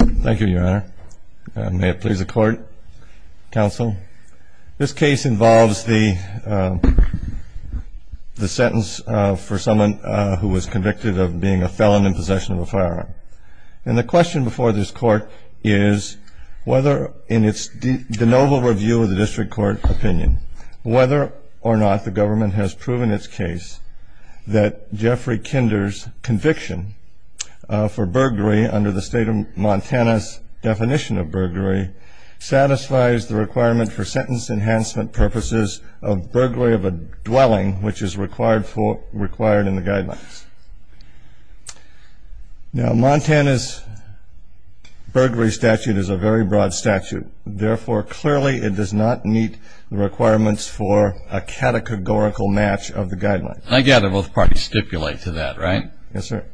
Thank you, your honor. May it please the court, counsel. This case involves the sentence for someone who was convicted of being a felon in possession of a firearm. And the question before this court is whether, in its de novo review of the district court opinion, whether or not the government has proven its case that Jeffrey Kinder's conviction for burglary under the state of Montana's definition of burglary satisfies the requirement for sentence enhancement purposes of burglary of a dwelling, which is required in the guidelines. Now Montana's burglary statute is a very broad statute. Therefore, clearly it does not meet the requirements for a categorical match of the guidelines. I gather both parties stipulate to that, right? Yes, sir.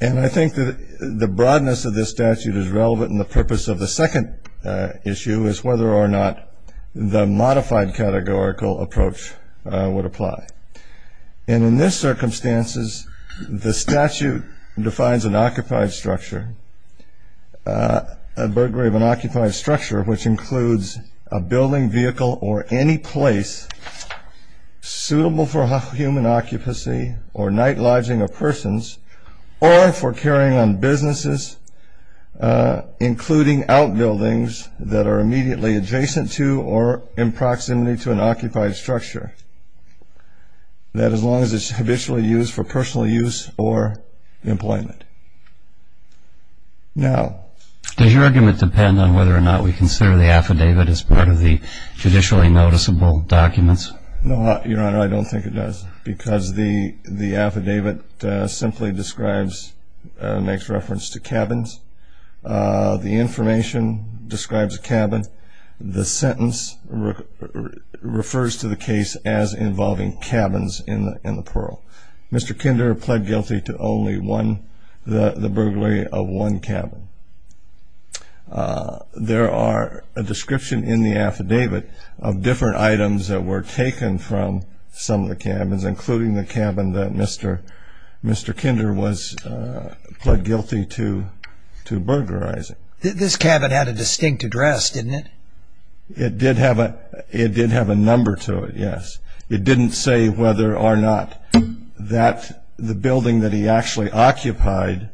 And I think that the broadness of this statute is relevant in the purpose of the second issue, is whether or not the modified categorical approach would apply. And in this circumstances, the statute defines an occupied structure, a burglary of an occupied structure, which includes a building, vehicle, or any place suitable for human occupancy or night lodging of persons or for carrying on businesses, including outbuildings that are immediately adjacent to or in proximity to an occupied structure, that as long as it's habitually used for personal use or employment. Does your argument depend on whether or not we consider the affidavit as part of the judicially noticeable documents? No, Your Honor, I don't think it does, because the affidavit simply describes, makes reference to cabins. The information describes a cabin. The sentence refers to the case as involving cabins in the plural. So Mr. Kinder pled guilty to only one, the burglary of one cabin. There are a description in the affidavit of different items that were taken from some of the cabins, including the cabin that Mr. Kinder was pled guilty to burglarizing. This cabin had a distinct address, didn't it? It did have a number to it, yes. It didn't say whether or not that the building that he actually occupied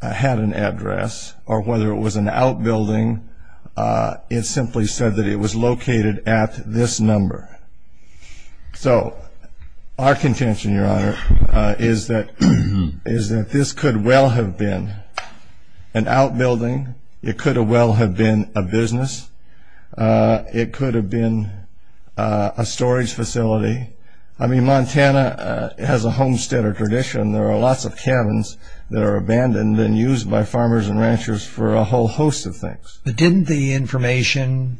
had an address or whether it was an outbuilding. It simply said that it was located at this number. So our contention, Your Honor, is that this could well have been an outbuilding. It could well have been a business. It could have been a storage facility. I mean, Montana has a homesteader tradition. There are lots of cabins that are abandoned and used by farmers and ranchers for a whole host of things. But didn't the information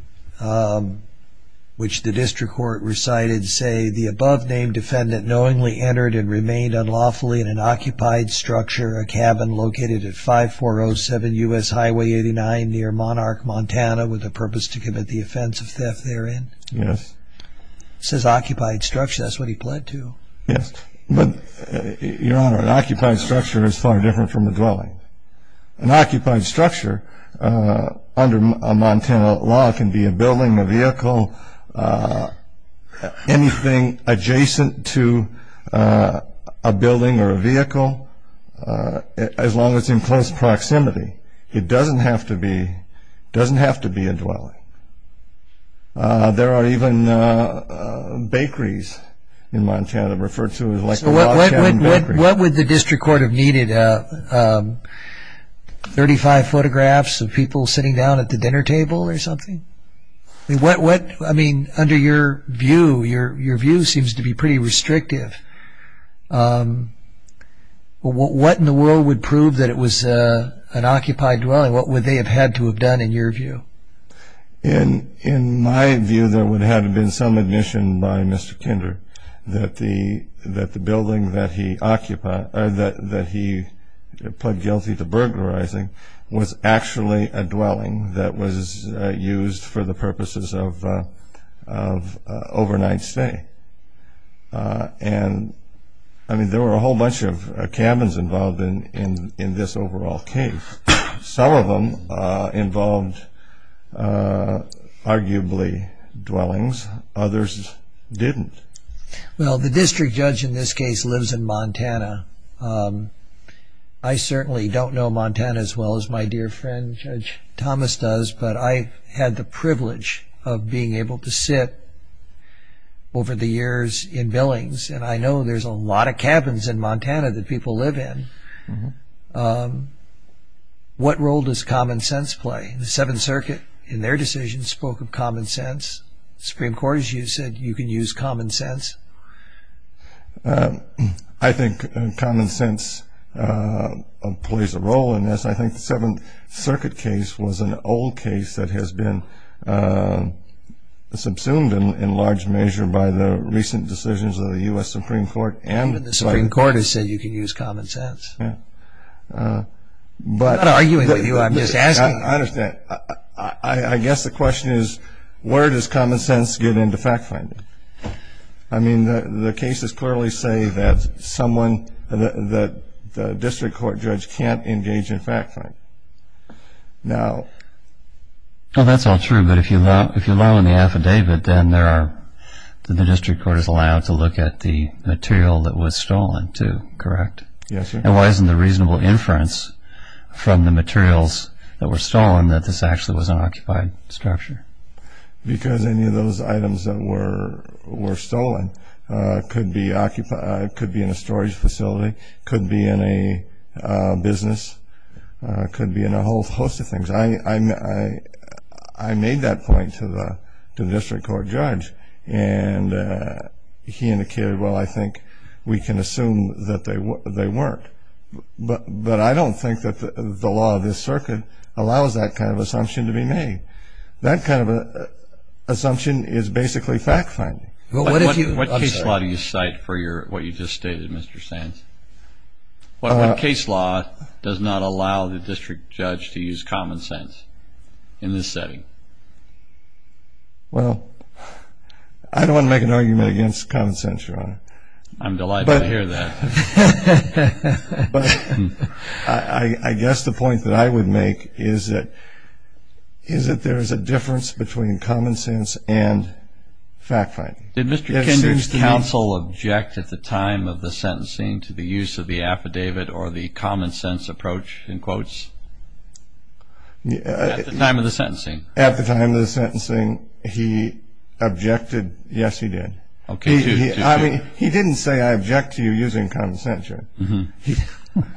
which the district court recited say, the above-named defendant knowingly entered and remained unlawfully in an occupied structure, a cabin located at 5407 U.S. Highway 89 near Monarch, Montana, with the purpose to commit the offense of theft therein? Yes. It says occupied structure. That's what he pled to. Yes. But, Your Honor, an occupied structure is far different from a dwelling. An occupied structure under a Montana law can be a building, a vehicle, anything adjacent to a building or a vehicle as long as it's in close proximity. It doesn't have to be a dwelling. There are even bakeries in Montana referred to as like a log cabin bakery. So what would the district court have needed, 35 photographs of people sitting down at the dinner table or something? I mean, under your view, your view seems to be pretty restrictive. What in the world would prove that it was an occupied dwelling? What would they have had to have done in your view? In my view, there would have been some admission by Mr. Kinder that the building that he occupied, that he pled guilty to burglarizing, was actually a dwelling that was used for the purposes of overnight stay. And, I mean, there were a whole bunch of cabins involved in this overall case. Some of them involved arguably dwellings. Others didn't. Well, the district judge in this case lives in Montana. I certainly don't know Montana as well as my dear friend Judge Thomas does, but I had the privilege of being able to sit over the years in billings. And I know there's a lot of cabins in Montana that people live in. What role does common sense play? The Seventh Circuit, in their decision, spoke of common sense. Supreme Court, as you said, you can use common sense. I think common sense plays a role in this. I think the Seventh Circuit case was an old case that has been subsumed in large measure by the recent decisions of the U.S. Supreme Court. Even the Supreme Court has said you can use common sense. I'm not arguing with you, I'm just asking. I understand. I guess the question is, where does common sense get into fact-finding? I mean, the cases clearly say that the district court judge can't engage in fact-finding. Well, that's all true, but if you allow in the affidavit, then the district court is allowed to look at the material that was stolen too, correct? Yes, sir. And why isn't the reasonable inference from the materials that were stolen that this actually was an occupied structure? Because any of those items that were stolen could be in a storage facility, could be in a business, could be in a whole host of things. I made that point to the district court judge, and he indicated, well, I think we can assume that they weren't. But I don't think that the law of this circuit allows that kind of assumption to be made. That kind of assumption is basically fact-finding. What case law do you cite for what you just stated, Mr. Sands? What case law does not allow the district judge to use common sense in this setting? Well, I don't want to make an argument against common sense, Your Honor. I'm delighted to hear that. But I guess the point that I would make is that there is a difference between common sense and fact-finding. Did Mr. Kendra's counsel object at the time of the sentencing to the use of the affidavit or the common sense approach, in quotes? At the time of the sentencing? At the time of the sentencing, he objected. Yes, he did. Okay. I mean, he didn't say, I object to you using common sense.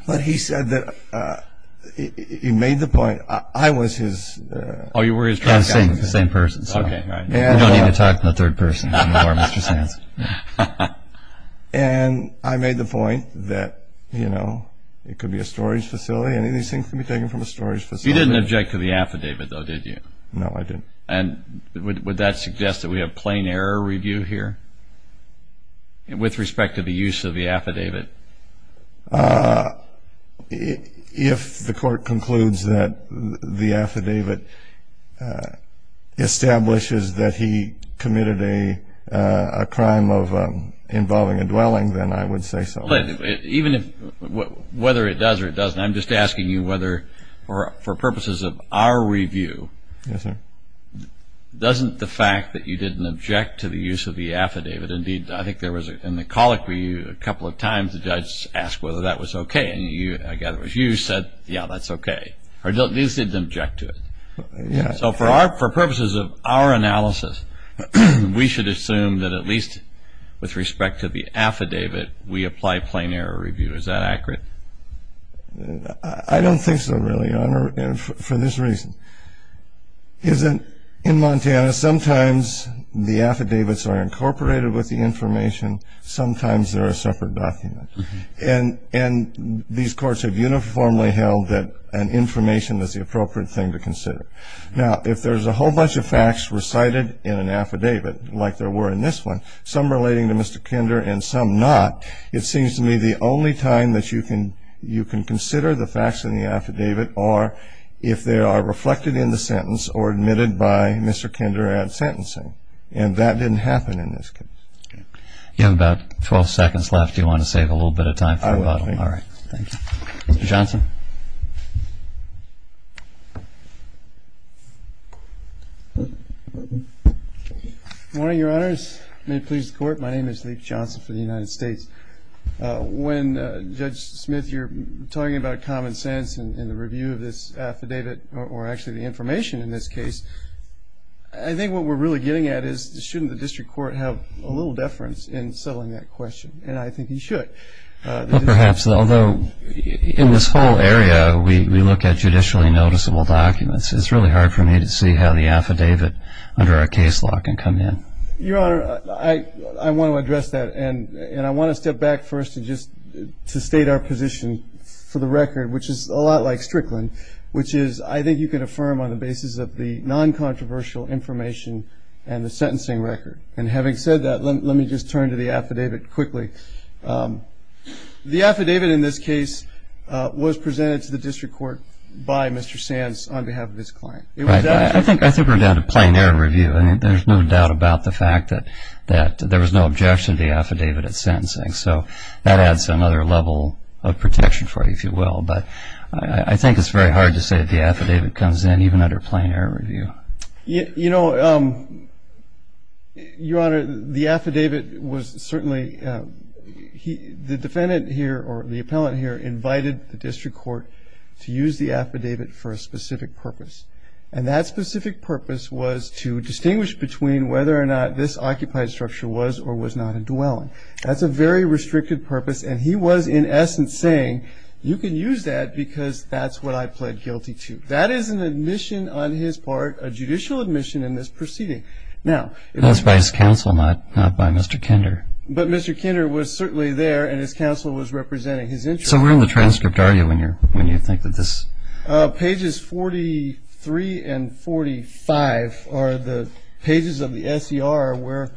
But he said that he made the point. I was his... Oh, you were his trial counsel? Yeah, the same person. Okay, right. We don't need to talk in the third person anymore, Mr. Sands. And I made the point that, you know, it could be a storage facility. You didn't object to the affidavit, though, did you? No, I didn't. And would that suggest that we have plain error review here with respect to the use of the affidavit? If the court concludes that the affidavit establishes that he committed a crime of involving a dwelling, then I would say so. Whether it does or it doesn't, I'm just asking you whether, for purposes of our review, doesn't the fact that you didn't object to the use of the affidavit, indeed I think there was in the colloquy a couple of times the judge asked whether that was okay, and I gather it was you who said, yeah, that's okay, or at least didn't object to it. So for purposes of our analysis, we should assume that at least with respect to the affidavit, we apply plain error review. Is that accurate? I don't think so, really, Your Honor, for this reason. In Montana, sometimes the affidavits are incorporated with the information, sometimes they're a separate document. And these courts have uniformly held that an information is the appropriate thing to consider. Now, if there's a whole bunch of facts recited in an affidavit, like there were in this one, some relating to Mr. Kinder and some not, it seems to me the only time that you can consider the facts in the affidavit are if they are reflected in the sentence or admitted by Mr. Kinder at sentencing. And that didn't happen in this case. You have about 12 seconds left. Do you want to save a little bit of time for rebuttal? I will. All right. Thank you. Mr. Johnson. Good morning, Your Honors. May it please the Court, my name is Leek Johnson for the United States. When Judge Smith, you're talking about common sense in the review of this affidavit, or actually the information in this case, I think what we're really getting at is shouldn't the district court have a little deference in settling that question? And I think he should. Perhaps, although in this whole area we look at judicially noticeable documents, it's really hard for me to see how the affidavit under our case law can come in. Your Honor, I want to address that, and I want to step back first to state our position for the record, which is a lot like Strickland, which is I think you can affirm on the basis of the non-controversial information and the sentencing record. And having said that, let me just turn to the affidavit quickly. The affidavit in this case was presented to the district court by Mr. Sands on behalf of his client. Right. I think we're down to plain error review, and there's no doubt about the fact that there was no objection to the affidavit at sentencing. So that adds another level of protection for you, if you will. But I think it's very hard to say that the affidavit comes in even under plain error review. You know, Your Honor, the affidavit was certainly the defendant here or the appellant here invited the district court to use the affidavit for a specific purpose. And that specific purpose was to distinguish between whether or not this occupied structure was or was not a dwelling. That's a very restricted purpose, and he was in essence saying, you can use that because that's what I pled guilty to. That is an admission on his part, a judicial admission in this proceeding. Now, it was by his counsel, not by Mr. Kinder. But Mr. Kinder was certainly there, and his counsel was representing his interest. So where in the transcript are you when you think of this? Pages 43 and 45 are the pages of the S.E.R. where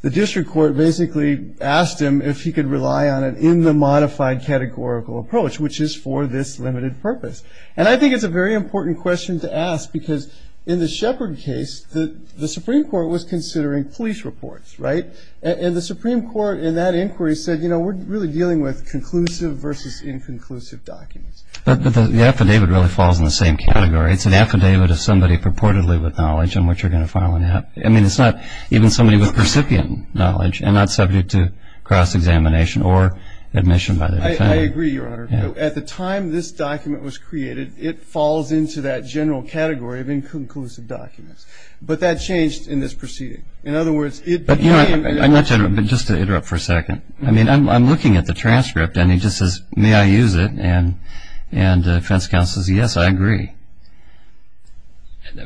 the district court basically asked him if he could rely on it in the modified categorical approach, which is for this limited purpose. And I think it's a very important question to ask because in the Shepard case, the Supreme Court was considering police reports, right? And the Supreme Court in that inquiry said, you know, we're really dealing with conclusive versus inconclusive documents. But the affidavit really falls in the same category. It's an affidavit of somebody purportedly with knowledge in which you're going to file an affidavit. I mean, it's not even somebody with recipient knowledge and not subject to cross-examination or admission by the defendant. I agree, Your Honor. At the time this document was created, it falls into that general category of inconclusive documents. But that changed in this proceeding. In other words, it became- But, Your Honor, I'd like to interrupt, but just to interrupt for a second. I mean, I'm looking at the transcript, and he just says, may I use it? And the defense counsel says, yes, I agree.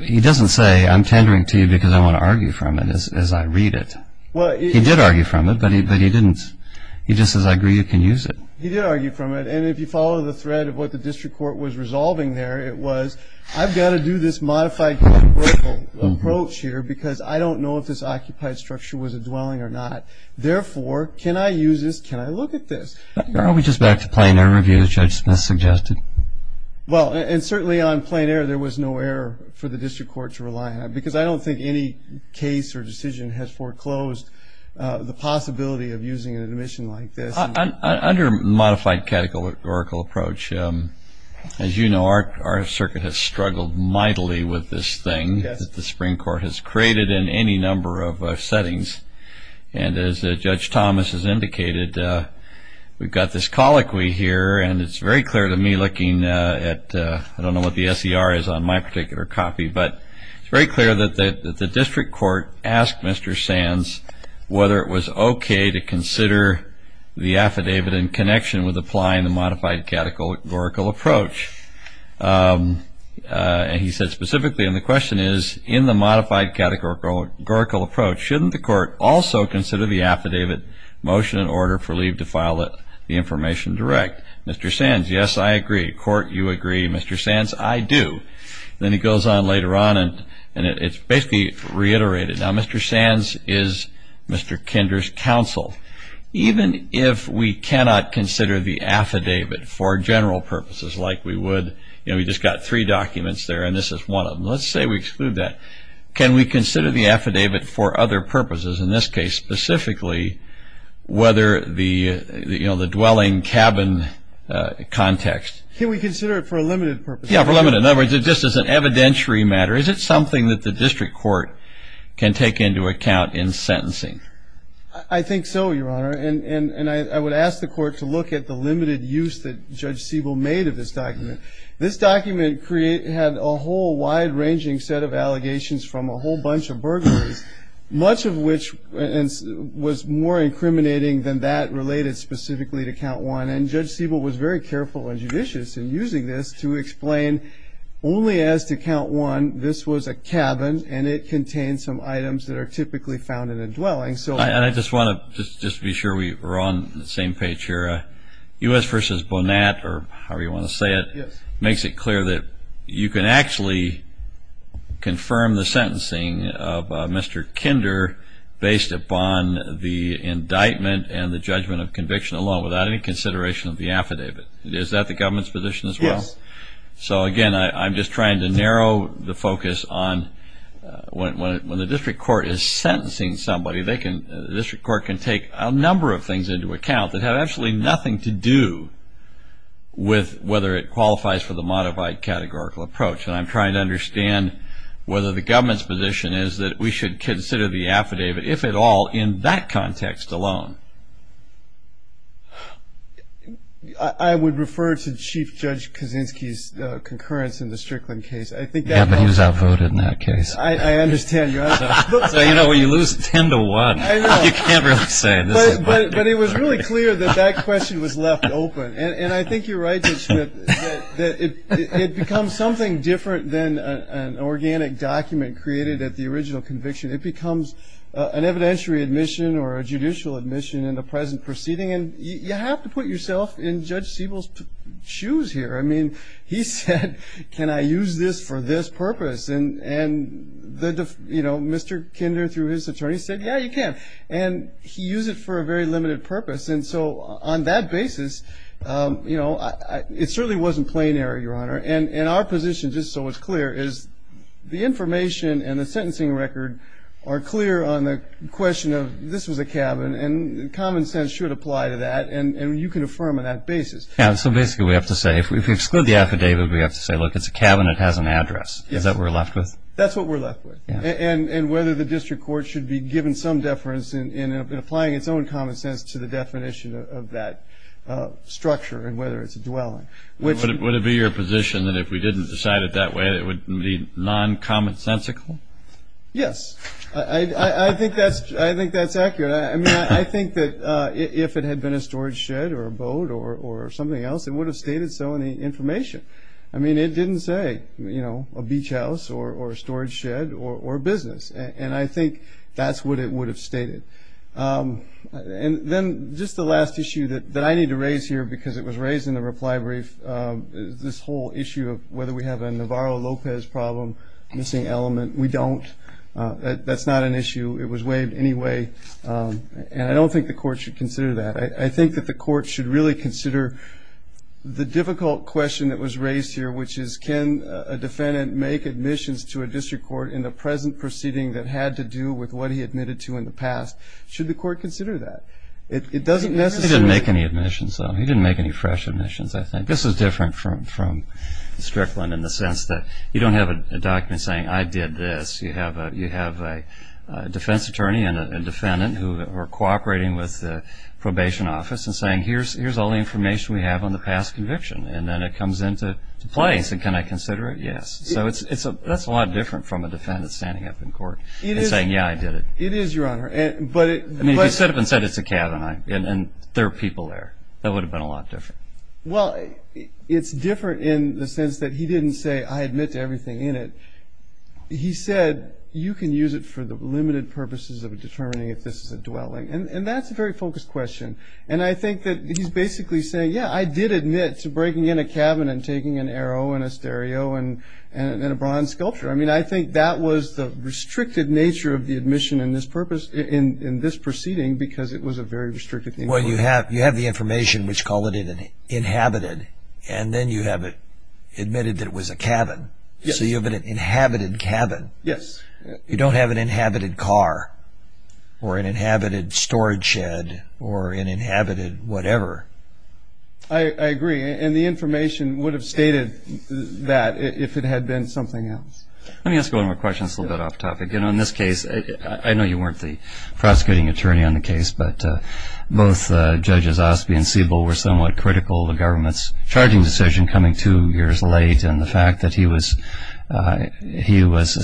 He doesn't say, I'm tendering to you because I want to argue from it as I read it. He did argue from it, but he didn't. He just says, I agree, you can use it. He did argue from it. And if you follow the thread of what the district court was resolving there, it was, I've got to do this modified controversial approach here because I don't know if this occupied structure was a dwelling or not. Therefore, can I use this? Can I look at this? I'll be just back to plain error review, as Judge Smith suggested. Well, and certainly on plain error, there was no error for the district court to rely on. Because I don't think any case or decision has foreclosed the possibility of using an admission like this. Under modified categorical approach, as you know, our circuit has struggled mightily with this thing that the Supreme Court has created in any number of settings. And as Judge Thomas has indicated, we've got this colloquy here, and it's very clear to me looking at, I don't know what the SER is on my particular copy, but it's very clear that the district court asked Mr. Sands whether it was okay to consider the affidavit in connection with applying the modified categorical approach. And he said specifically, and the question is, in the modified categorical approach, shouldn't the court also consider the affidavit motion in order for leave to file the information direct? Mr. Sands, yes, I agree. Court, you agree. Mr. Sands, I do. Then he goes on later on, and it's basically reiterated. Now, Mr. Sands is Mr. Kinder's counsel. Even if we cannot consider the affidavit for general purposes like we would, you know, we've just got three documents there, and this is one of them. Let's say we exclude that. Can we consider the affidavit for other purposes, in this case, specifically whether the dwelling cabin context? Can we consider it for a limited purpose? Yes, for a limited purpose. In other words, just as an evidentiary matter, is it something that the district court can take into account in sentencing? I think so, Your Honor. And I would ask the court to look at the limited use that Judge Siebel made of this document. This document had a whole wide-ranging set of allegations from a whole bunch of burglaries, much of which was more incriminating than that related specifically to Count 1. And Judge Siebel was very careful and judicious in using this to explain only as to Count 1, this was a cabin and it contained some items that are typically found in a dwelling. And I just want to just be sure we're on the same page here. U.S. v. Bonat, or however you want to say it, makes it clear that you can actually confirm the sentencing of Mr. Kinder based upon the indictment and the judgment of conviction alone without any consideration of the affidavit. Is that the government's position as well? Yes. So, again, I'm just trying to narrow the focus on when the district court is sentencing somebody, the district court can take a number of things into account that have absolutely nothing to do with whether it qualifies for the modified categorical approach. And I'm trying to understand whether the government's position is that we should consider the affidavit, if at all, in that context alone. I would refer to Chief Judge Kaczynski's concurrence in the Strickland case. Yeah, but he was outvoted in that case. I understand. So, you know, you lose 10 to 1. I know. You can't really say. But it was really clear that that question was left open. And I think you're right, Judge Smith, that it becomes something different than an organic document created at the original conviction. It becomes an evidentiary admission or a judicial admission in the present proceeding. And you have to put yourself in Judge Siebel's shoes here. I mean, he said, can I use this for this purpose? And, you know, Mr. Kinder, through his attorney, said, yeah, you can. And he used it for a very limited purpose. And so on that basis, you know, it certainly wasn't plain error, Your Honor. And our position, just so it's clear, is the information and the sentencing record are clear on the question of this was a cabin. And common sense should apply to that. And you can affirm on that basis. Yeah, so basically we have to say, if we exclude the affidavit, we have to say, look, it's a cabin. It has an address. Is that what we're left with? That's what we're left with. And whether the district court should be given some deference in applying its own common sense to the definition of that structure and whether it's a dwelling. Would it be your position that if we didn't decide it that way, it would be non-commonsensical? Yes. I think that's accurate. I mean, I think that if it had been a storage shed or a boat or something else, it would have stated so in the information. I mean, it didn't say, you know, a beach house or a storage shed or a business. And I think that's what it would have stated. And then just the last issue that I need to raise here, because it was raised in the reply brief, this whole issue of whether we have a Navarro-Lopez problem, missing element. We don't. That's not an issue. It was waived anyway. And I don't think the court should consider that. I think that the court should really consider the difficult question that was raised here, which is can a defendant make admissions to a district court in the present proceeding that had to do with what he admitted to in the past? Should the court consider that? It doesn't necessarily. He didn't make any admissions, though. He didn't make any fresh admissions, I think. This is different from Strickland in the sense that you don't have a document saying, I did this. You have a defense attorney and a defendant who are cooperating with the probation office and saying, here's all the information we have on the past conviction. And then it comes into play. Can I consider it? Yes. So that's a lot different from a defendant standing up in court and saying, yeah, I did it. It is, Your Honor. I mean, if he stood up and said, it's a cabin, and there are people there, that would have been a lot different. Well, it's different in the sense that he didn't say, I admit to everything in it. He said, you can use it for the limited purposes of determining if this is a dwelling. And that's a very focused question. And I think that he's basically saying, yeah, I did admit to breaking in a cabin and taking an arrow and a stereo and a bronze sculpture. I mean, I think that was the restricted nature of the admission in this proceeding because it was a very restricted thing. Well, you have the information, which call it inhabited, and then you have it admitted that it was a cabin. So you have an inhabited cabin. Yes. You don't have an inhabited car or an inhabited storage shed or an inhabited whatever. I agree. And the information would have stated that if it had been something else. Let me ask one more question that's a little bit off topic. You know, in this case, I know you weren't the prosecuting attorney on the case, but both Judges Osby and Siebel were somewhat critical of the government's charging decision coming two years late and the fact that he was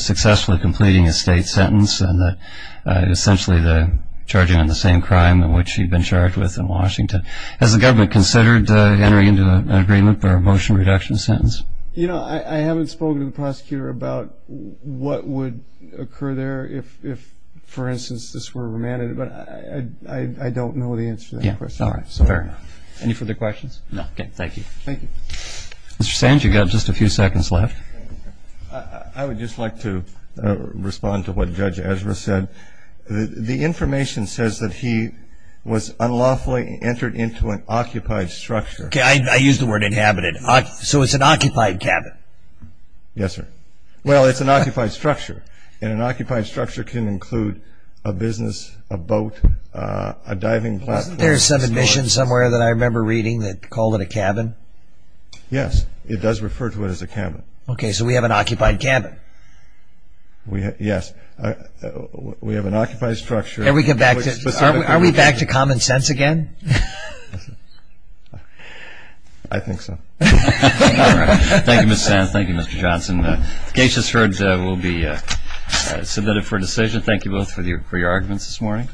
successfully completing a state sentence and essentially charging on the same crime in which he'd been charged with in Washington. Has the government considered entering into an agreement for a motion reduction sentence? You know, I haven't spoken to the prosecutor about what would occur there if, for instance, this were remanded. But I don't know the answer to that question. All right. Fair enough. Any further questions? No. Okay. Thank you. Thank you. Mr. Sand, you've got just a few seconds left. I would just like to respond to what Judge Ezra said. The information says that he was unlawfully entered into an occupied structure. Okay. I used the word inhabited. So it's an occupied cabin. Yes, sir. Well, it's an occupied structure, and an occupied structure can include a business, a boat, a diving platform. Wasn't there some admission somewhere that I remember reading that called it a cabin? Yes. It does refer to it as a cabin. Okay. So we have an occupied cabin. Yes. We have an occupied structure. Are we back to common sense again? I think so. Thank you, Mr. Sand. Thank you, Mr. Johnson. The case has heard will be submitted for decision. Thank you both for your arguments this morning.